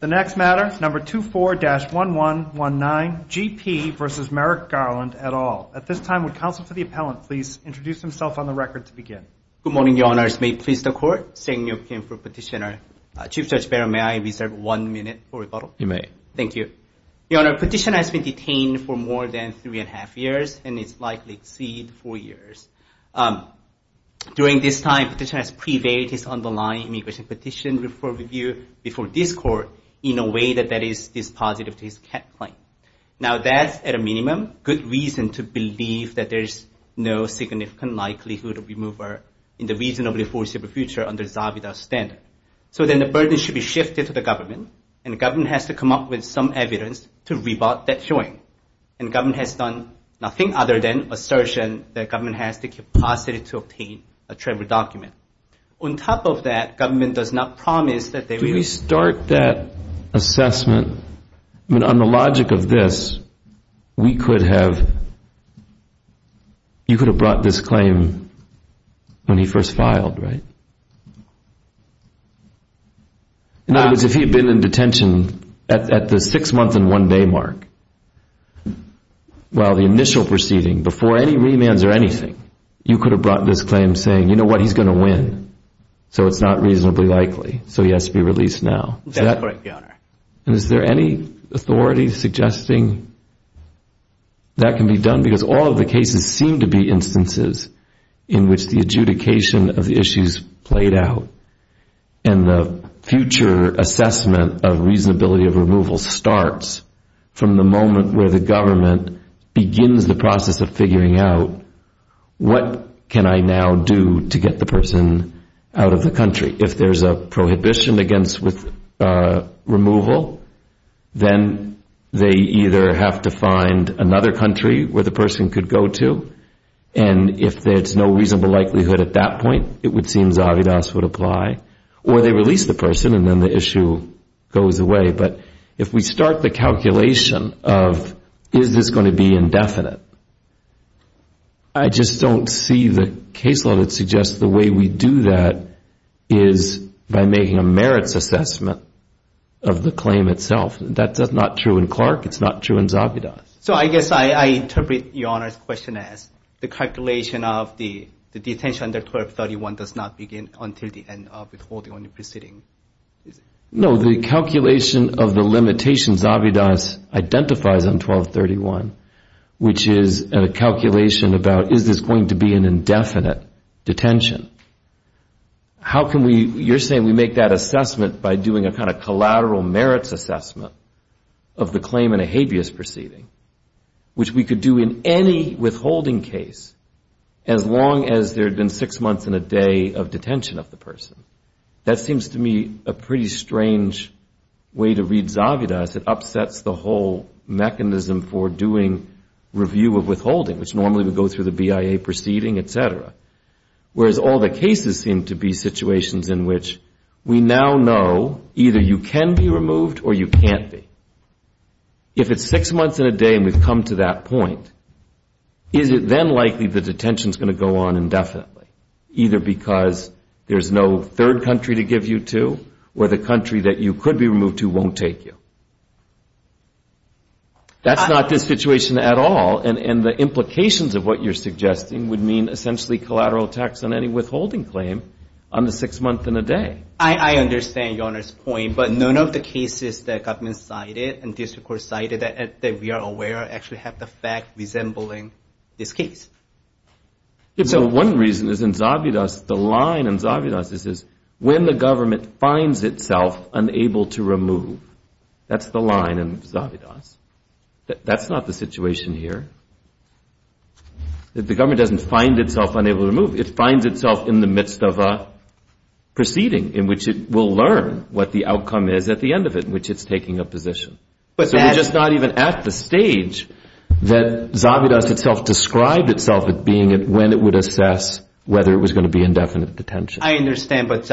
The next matter, No. 24-1119, G.P. v. Merrick Garland, et al. At this time, would counsel for the appellant please introduce himself on the record to begin? Good morning, Your Honors. May it please the Court? Sang-nyeok Kim for petitioner. Chief Judge Barron, may I reserve one minute for rebuttal? You may. Thank you. Your Honor, petitioner has been detained for more than three and a half years and is likely to exceed four years. During this time, petitioner has prevailed his underlying immigration petition for review before this Court in a way that is dispositive to his CAT claim. Now that, at a minimum, is a good reason to believe that there is no significant likelihood of removal in the reasonably foreseeable future under Zabida's standard. So then the burden should be shifted to the government, and the government has to come up with some evidence to rebut that showing. And government has done nothing other than assertion that government has the capacity to obtain a travel document. On top of that, government does not promise that they will Can we start that assessment? I mean, on the logic of this, we could have, you could have brought this claim when he first filed, right? In other words, if he had been in detention at the six month and one day mark, while the initial proceeding, before any remands or anything, you could have brought this claim saying, you know what, he's going to win, so it's not reasonably likely, so he has to be released now. That's correct, Your Honor. And is there any authority suggesting that can be done? Because all of the cases seem to be instances in which the adjudication of the issues played out, and the future assessment of reasonability of removal starts from the moment where the government begins the process of figuring out, what can I now do to get the person out of the country? If there's a prohibition against removal, then they either have to find another country where the person could go to, and if there's no reasonable likelihood at that point, it would seem Zahavidas would apply, or they release the person and then the issue goes away. But if we start the calculation of, is this going to be indefinite, I just don't see the case law that suggests the way we do that is by making a merits assessment of the claim itself. That's not true in Clark. It's not true in Zahavidas. So I guess I interpret Your Honor's question as the calculation of the detention under 1231 does not begin until the end of withholding on the proceeding. No, the calculation of the limitations Zahavidas identifies on 1231, which is a calculation about, is this going to be an indefinite detention? How can we, you're saying we make that assessment by doing a kind of collateral merits assessment of the claim in a habeas proceeding, which we could do in any withholding case as long as there had been six months and a day of detention of the person. That seems to me a pretty strange way to read Zahavidas. It upsets the whole mechanism for doing review of withholding, which normally would go through the BIA proceeding, et cetera. Whereas all the cases seem to be situations in which we now know either you can be removed or you can't be. If it's six months and a day and we've come to that point, is it then likely the detention is going to go on indefinitely, either because there's no third country to give you to or the country that you could be removed to won't take you? That's not the situation at all. And the implications of what you're suggesting would mean essentially collateral tax on any withholding claim on the six months and a day. I understand Your Honor's point. But none of the cases that have been cited and this court cited that we are aware actually have the fact resembling this case. So one reason is in Zahavidas, the line in Zahavidas is when the government finds itself unable to remove. That's the line in Zahavidas. That's not the situation here. The government doesn't find itself unable to remove. It finds itself in the midst of a proceeding in which it will learn what the outcome is at the end of it, in which it's taking a position. So we're just not even at the stage that Zahavidas itself described itself as being when it would assess whether it was going to be indefinite detention. I understand. But,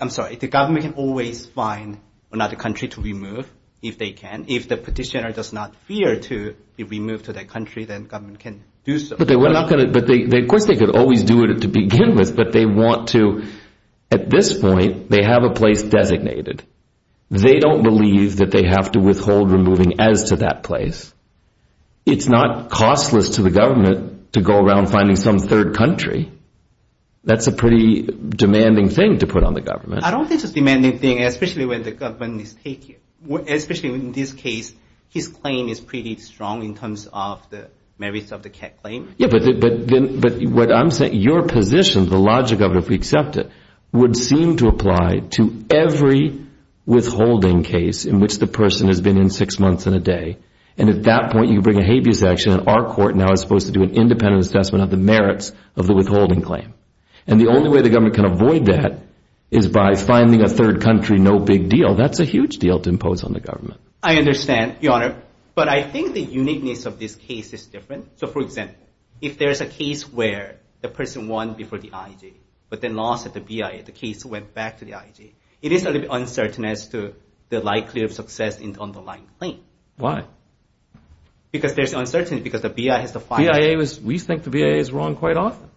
I'm sorry, the government can always find another country to remove if they can. If the petitioner does not fear to be removed to that country, then government can do so. But of course they could always do it to begin with. But they want to at this point, they have a place designated. They don't believe that they have to withhold removing as to that place. It's not costless to the government to go around finding some third country. That's a pretty demanding thing to put on the government. I don't think it's a demanding thing, especially when the government is taking, especially in this case, his claim is pretty strong in terms of the merits of the CAC claim. Yeah, but what I'm saying, your position, the logic of it, if we accept it, would seem to apply to every withholding case in which the person has been in six months and a day. And at that point, you bring a habeas action and our court now is supposed to do an independent assessment of the merits of the withholding claim. And the only way the government can avoid that is by finding a third country, no big deal. That's a huge deal to impose on the government. I understand, Your Honor. But I think the uniqueness of this case is different. So, for example, if there's a case where the person won before the IJ but then lost at the BIA, the case went back to the IJ, it is a little bit uncertain as to the likelihood of success in the underlying claim. Why? Because there's uncertainty because the BIA has to find it. We think the BIA is wrong quite often.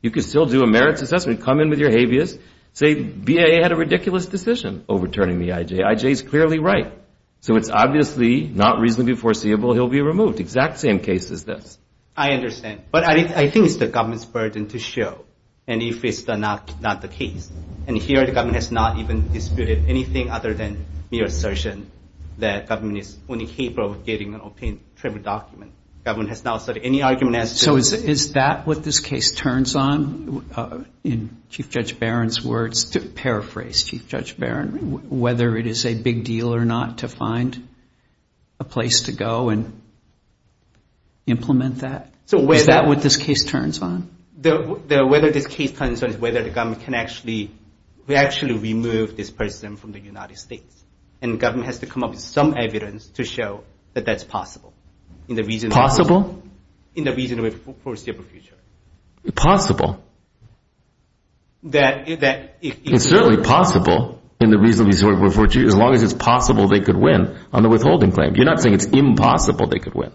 You can still do a merits assessment, come in with your habeas, say BIA had a ridiculous decision overturning the IJ. IJ is clearly right. So it's obviously not reasonably foreseeable he'll be removed. Exact same case as this. I understand. But I think it's the government's burden to show and if it's not the case. And here the government has not even disputed anything other than mere assertion that government is only capable of getting an obtained tribute document. Government has not said any argument has to be made. Is that what this case turns on? In Chief Judge Barron's words, to paraphrase Chief Judge Barron, whether it is a big deal or not to find a place to go and implement that? Is that what this case turns on? Whether this case turns on is whether the government can actually remove this person from the United States. And government has to come up with some evidence to show that that's possible. Possible? In the reasonably foreseeable future. Possible. It's certainly possible in the reasonably foreseeable future as long as it's possible they could win on the withholding claim. You're not saying it's impossible they could win.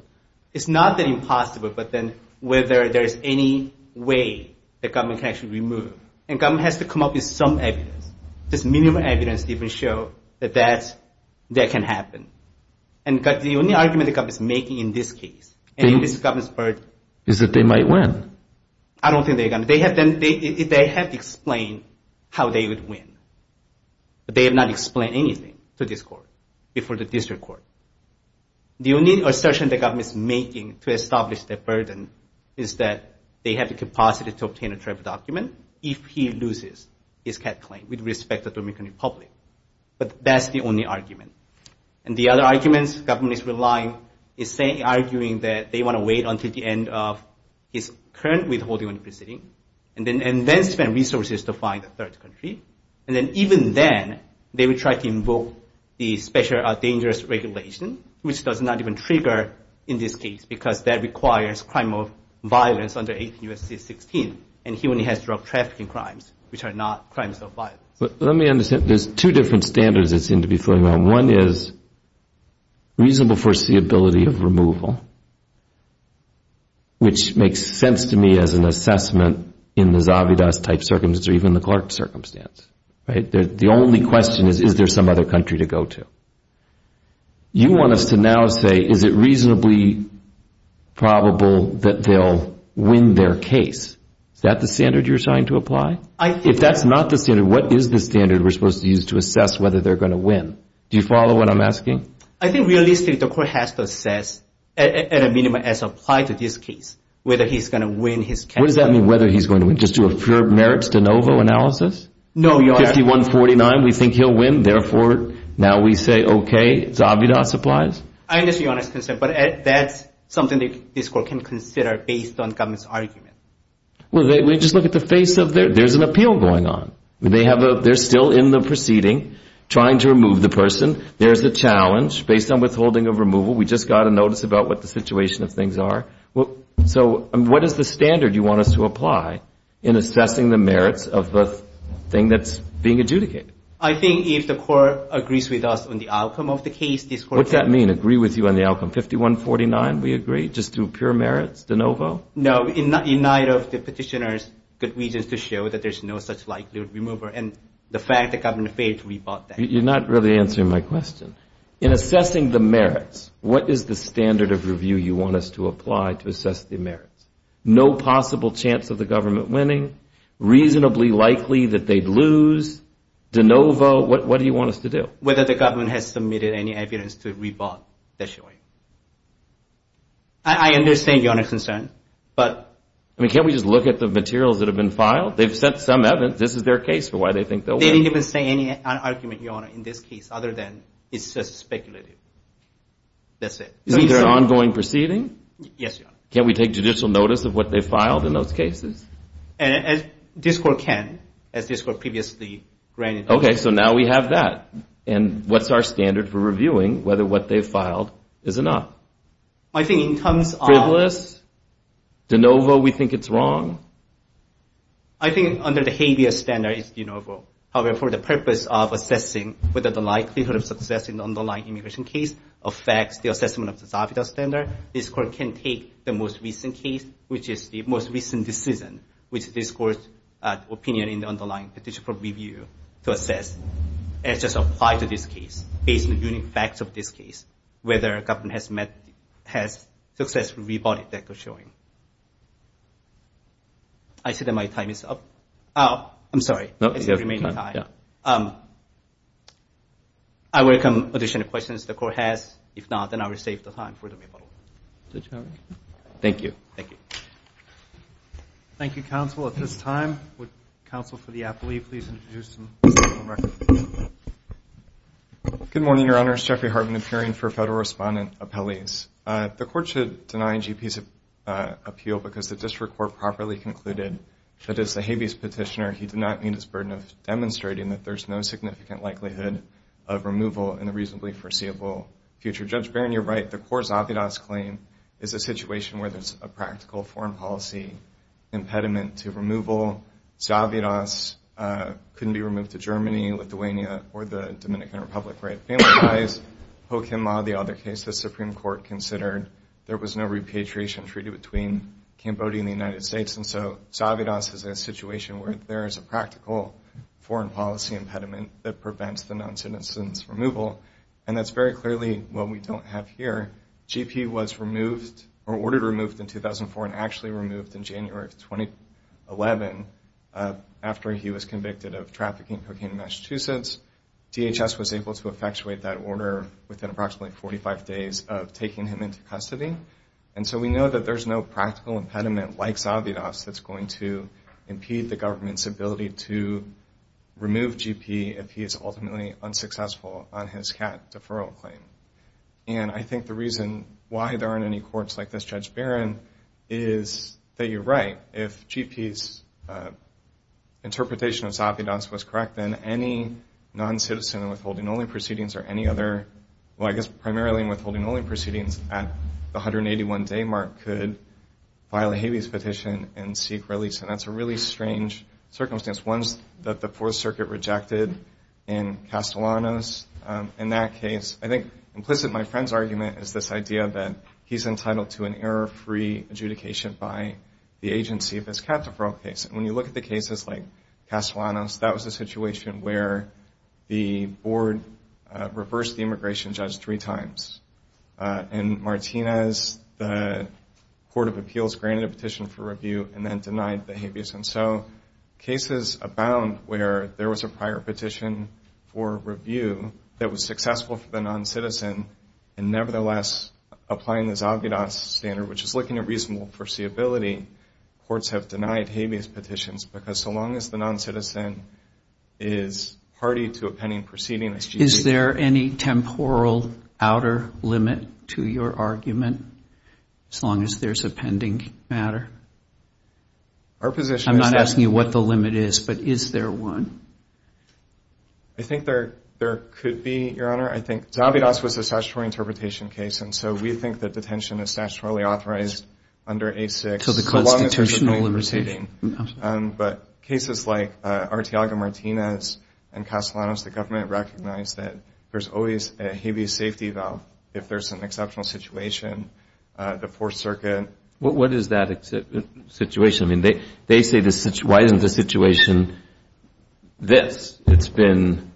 It's not that impossible, but then whether there's any way that government can actually remove. And government has to come up with some evidence, just minimum evidence to even show that that can happen. And the only argument the government is making in this case and in this government's burden. Is that they might win? I don't think they're going to. They have explained how they would win. But they have not explained anything to this court before the district court. The only assertion the government is making to establish their burden is that they have the capacity to obtain a tribute document if he loses his CAT claim with respect to the Dominican Republic. But that's the only argument. And the other arguments government is relying is arguing that they want to wait until the end of his current withholding proceeding. And then spend resources to find a third country. And then even then, they would try to invoke the special dangerous regulation, which does not even trigger in this case. Because that requires crime of violence under 18 U.S.C. 16. And he only has drug trafficking crimes, which are not crimes of violence. Let me understand. There's two different standards that seem to be floating around. One is reasonable foreseeability of removal, which makes sense to me as an assessment in the Zavidas-type circumstance or even the Clark circumstance. The only question is, is there some other country to go to? You want us to now say, is it reasonably probable that they'll win their case? Is that the standard you're trying to apply? If that's not the standard, what is the standard we're supposed to use to assess whether they're going to win? Do you follow what I'm asking? I think realistically, the court has to assess at a minimum as applied to this case whether he's going to win his CAT claim. What does that mean, whether he's going to win? Just do a pure merits de novo analysis? No. 51-49, we think he'll win. Therefore, now we say, okay, Zavidas applies? I understand your honest concern. But that's something this court can consider based on government's argument. Well, just look at the face of it. There's an appeal going on. They're still in the proceeding trying to remove the person. There's a challenge based on withholding of removal. We just got a notice about what the situation of things are. So what is the standard you want us to apply in assessing the merits of the thing that's being adjudicated? I think if the court agrees with us on the outcome of the case, this court can do that. What does that mean, agree with you on the outcome? 51-49, we agree? Just do pure merits de novo? No, in light of the petitioner's good reasons to show that there's no such likelihood of removal and the fact that government failed to rebut that. You're not really answering my question. In assessing the merits, what is the standard of review you want us to apply to assess the merits? No possible chance of the government winning, reasonably likely that they'd lose, de novo. What do you want us to do? Whether the government has submitted any evidence to rebut the showing. I understand Your Honor's concern. Can't we just look at the materials that have been filed? They've sent some evidence. This is their case for why they think they'll win. They didn't even say any argument, Your Honor, in this case other than it's just speculative. That's it. Is it an ongoing proceeding? Yes, Your Honor. Can't we take judicial notice of what they filed in those cases? This court can, as this court previously granted. Okay, so now we have that. And what's our standard for reviewing whether what they filed is enough? I think in terms of— Frivolous? De novo we think it's wrong? I think under the habeas standard it's de novo. However, for the purpose of assessing whether the likelihood of success in the underlying immigration case affects the assessment of the Zavita standard, this court can take the most recent case, which is the most recent decision, which this court's opinion in the underlying petition for review to assess. It's just applied to this case based on the facts of this case, whether a government has successfully rebutted that they're showing. I see that my time is up. Oh, I'm sorry. It's the remaining time. I welcome additional questions the court has. If not, then I will save the time for the rebuttal. Thank you. Thank you. Thank you, counsel. At this time, would counsel for the appellee please introduce the record? Good morning, Your Honors. Jeffrey Harbin appearing for federal respondent appellees. The court should deny GP's appeal because the district court properly concluded that as a habeas petitioner, he did not meet his burden of demonstrating that there's no significant likelihood of removal in the reasonably foreseeable future. Judge Barron, you're right. The core Zavidas claim is a situation where there's a practical foreign policy impediment to removal. Zavidas couldn't be removed to Germany, Lithuania, or the Dominican Republic where it family lies. Ho Kim Ma, the other case the Supreme Court considered, there was no repatriation treaty between Cambodia and the United States. And so Zavidas is a situation where there is a practical foreign policy impediment that prevents the non-citizens' removal. And that's very clearly what we don't have here. GP was removed or ordered removed in 2004 and actually removed in January of 2011 after he was convicted of trafficking cocaine in Massachusetts. DHS was able to effectuate that order within approximately 45 days of taking him into custody. And so we know that there's no practical impediment like Zavidas that's going to impede the government's ability to remove GP if he is ultimately unsuccessful on his cat deferral claim. And I think the reason why there aren't any courts like this, Judge Barron, is that you're right. If GP's interpretation of Zavidas was correct, then any non-citizen withholding only proceedings or any other, well, I guess primarily withholding only proceedings at the 181-day mark could file a habeas petition and seek release. And that's a really strange circumstance, one that the Fourth Circuit rejected in Castellanos. In that case, I think implicit in my friend's argument is this idea that he's entitled to an error-free adjudication by the agency of his cat deferral case. And when you look at the cases like Castellanos, that was a situation where the board reversed the immigration judge three times. And Martinez, the Court of Appeals, granted a petition for review and then denied the habeas. And so cases abound where there was a prior petition for review that was successful for the non-citizen and nevertheless applying the Zavidas standard, which is looking at reasonable foreseeability, courts have denied habeas petitions because so long as the non-citizen is party to a pending proceeding, Is there any temporal outer limit to your argument as long as there's a pending matter? Our position is that I'm not asking you what the limit is, but is there one? I think there could be, Your Honor. I think Zavidas was a statutory interpretation case, and so we think that detention is statutorily authorized under A6 as long as there's a pending proceeding. But cases like Arteaga-Martinez and Castellanos, the government recognized that there's always a habeas safety valve if there's an exceptional situation. The Fourth Circuit What is that situation? I mean, they say why isn't the situation this? It's been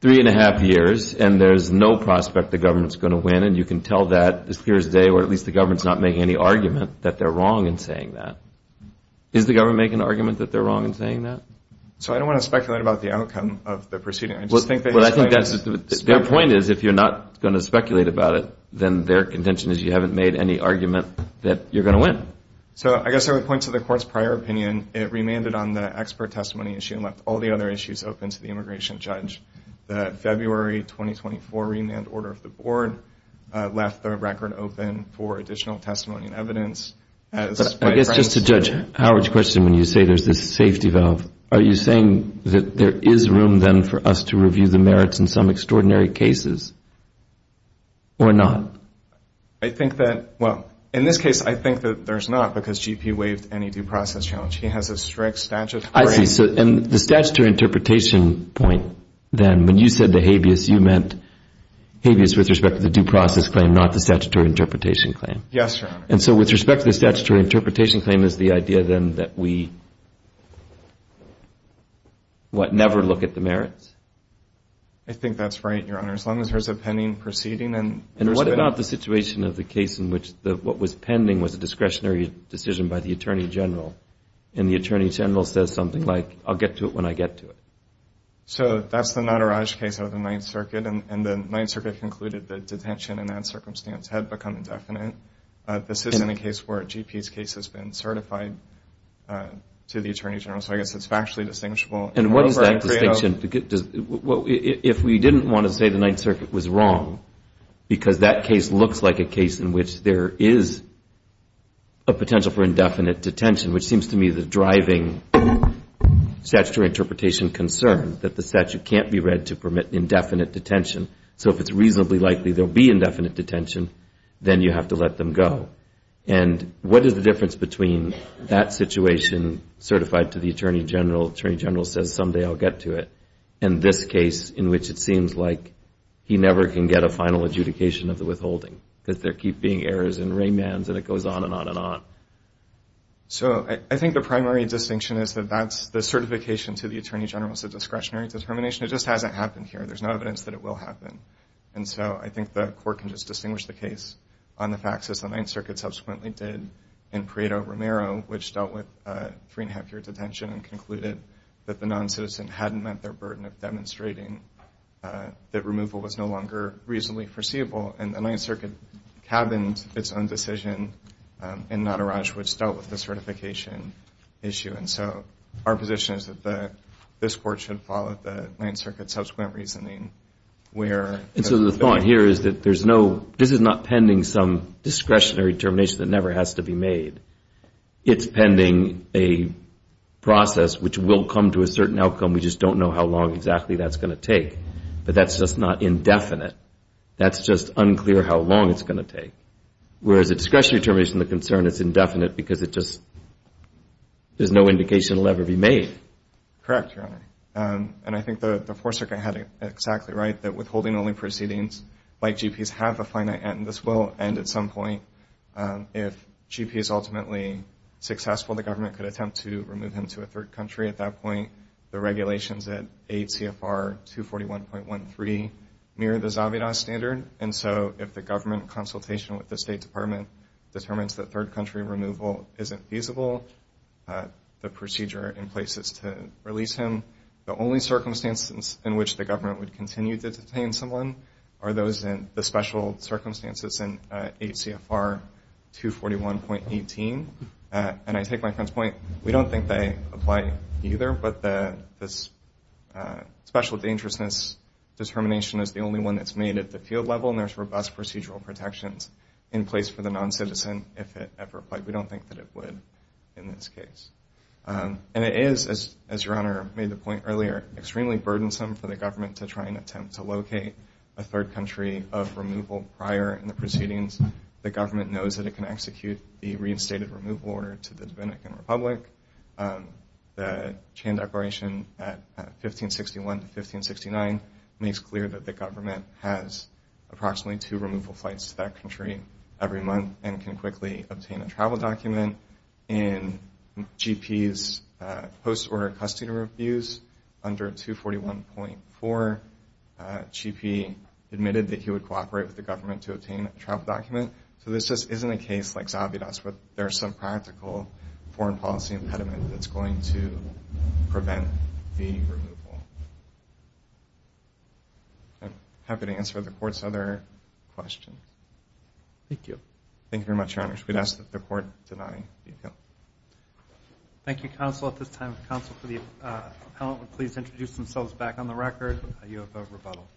three and a half years, and there's no prospect the government's going to win. And you can tell that this Thursday, or at least the government's not making any argument that they're wrong in saying that. Is the government making an argument that they're wrong in saying that? So I don't want to speculate about the outcome of the proceeding. Their point is if you're not going to speculate about it, then their contention is you haven't made any argument that you're going to win. So I guess I would point to the Court's prior opinion. It remanded on the expert testimony issue and left all the other issues open to the immigration judge. The February 2024 remand order of the Board left the record open for additional testimony and evidence. I guess just to judge Howard's question, when you say there's this safety valve, are you saying that there is room then for us to review the merits in some extraordinary cases or not? I think that, well, in this case, I think that there's not because GP waived any due process challenge. He has a strict statute. I see. And the statutory interpretation point then, when you said the habeas, you meant habeas with respect to the due process claim, not the statutory interpretation claim. Yes, Your Honor. And so with respect to the statutory interpretation claim, is the idea then that we never look at the merits? I think that's right, Your Honor, as long as there's a pending proceeding. And what about the situation of the case in which what was pending was a discretionary decision by the Attorney General and the Attorney General says something like, I'll get to it when I get to it? So that's the Nataraj case out of the Ninth Circuit, and the Ninth Circuit concluded that detention in that circumstance had become indefinite. This isn't a case where a GP's case has been certified to the Attorney General, so I guess it's factually distinguishable. And what is that distinction? If we didn't want to say the Ninth Circuit was wrong because that case looks like a case in which there is a potential for indefinite detention, which seems to me the driving statutory interpretation concern, that the statute can't be read to permit indefinite detention. So if it's reasonably likely there will be indefinite detention, then you have to let them go. And what is the difference between that situation certified to the Attorney General, the Attorney General says someday I'll get to it, and this case in which it seems like he never can get a final adjudication of the withholding because there keep being errors and raymans and it goes on and on and on. So I think the primary distinction is that the certification to the Attorney General is a discretionary determination. It just hasn't happened here. There's no evidence that it will happen. And so I think the Court can just distinguish the case on the facts, as the Ninth Circuit subsequently did, in Pareto-Romero, which dealt with three-and-a-half-year detention and concluded that the noncitizen hadn't met their burden of demonstrating that removal was no longer reasonably foreseeable. And the Ninth Circuit cabined its own decision in Nataraj, which dealt with the certification issue. And so our position is that this Court should follow the Ninth Circuit's subsequent reasoning where And so the thought here is that there's no, this is not pending some discretionary determination that never has to be made. It's pending a process which will come to a certain outcome. We just don't know how long exactly that's going to take. But that's just not indefinite. That's just unclear how long it's going to take. Whereas a discretionary determination of the concern is indefinite because it just, there's no indication it will ever be made. Correct, Your Honor. And I think the Fourth Circuit had it exactly right that withholding only proceedings like GP's have a finite end. This will end at some point. If GP is ultimately successful, the government could attempt to remove him to a third country at that point. The regulations at 8 CFR 241.13 mirror the Zavada standard. And so if the government consultation with the State Department determines that third country removal isn't feasible, the procedure in place is to release him. The only circumstances in which the government would continue to detain someone are those in, the special circumstances in 8 CFR 241.18. And I take my friend's point. We don't think they apply either, but this special dangerousness determination is the only one that's made at the field level, and there's robust procedural protections in place for the non-citizen if it ever applied. We don't think that it would in this case. And it is, as Your Honor made the point earlier, extremely burdensome for the government to try and attempt to locate a third country of removal prior in the proceedings. The government knows that it can execute the reinstated removal order to the Dominican Republic. The chain declaration at 1561 to 1569 makes clear that the government has approximately two removal flights to that country every month and can quickly obtain a travel document. In GP's post-order custody reviews under 241.4, GP admitted that he would cooperate with the government to obtain a travel document. So this just isn't a case like Zavida's, but there's some practical foreign policy impediment that's going to prevent the removal. I'm happy to answer the Court's other questions. Thank you. Thank you very much, Your Honors. Thank you, Counsel. At this time, the counsel for the appellant would please introduce themselves back on the record. You have a rebuttal.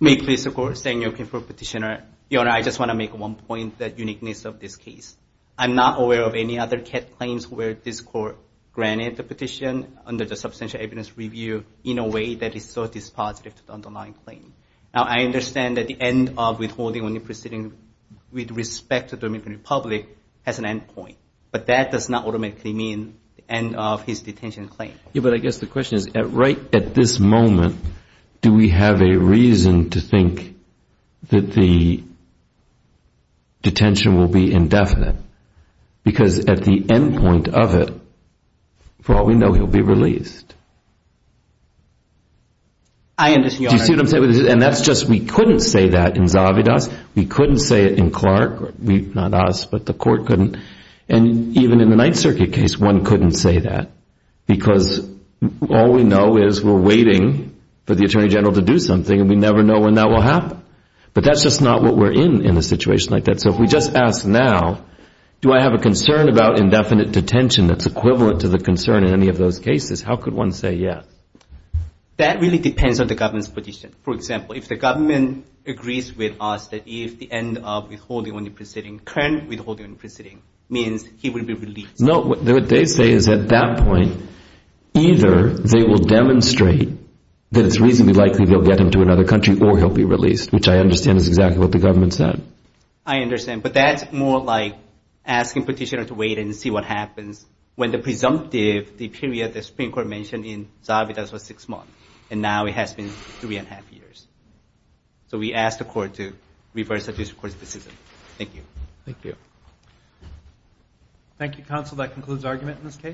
May it please the Court, Samuel Kim for Petitioner. Your Honor, I just want to make one point, that uniqueness of this case. I'm not aware of any other CAT claims where this Court granted the petition under the Substantial Evidence Review in a way that is so dispositive to the underlying claim. Now, I understand that the end of withholding when you're proceeding with respect to the Dominican Republic has an end point. But that does not automatically mean the end of his detention claim. Yeah, but I guess the question is, right at this moment, do we have a reason to think that the detention will be indefinite? Because at the end point of it, for all we know, he'll be released. I understand. Do you see what I'm saying? And that's just we couldn't say that in Zavida's. We couldn't say it in Clark. Not us, but the Court couldn't. And even in the Ninth Circuit case, one couldn't say that. Because all we know is we're waiting for the Attorney General to do something, and we never know when that will happen. But that's just not what we're in in a situation like that. So if we just ask now, do I have a concern about indefinite detention that's equivalent to the concern in any of those cases, how could one say yes? That really depends on the government's position. For example, if the government agrees with us that if the end of withholding on the proceeding, current withholding on the proceeding means he will be released. No, what they say is at that point either they will demonstrate that it's reasonably likely they'll get him to another country or he'll be released, which I understand is exactly what the government said. I understand. But that's more like asking petitioner to wait and see what happens when the presumptive, the period the Supreme Court mentioned in Zabitaz was six months. And now it has been three and a half years. So we ask the Court to reverse the District Court's decision. Thank you. Thank you. Thank you, Counsel. That concludes argument in this case.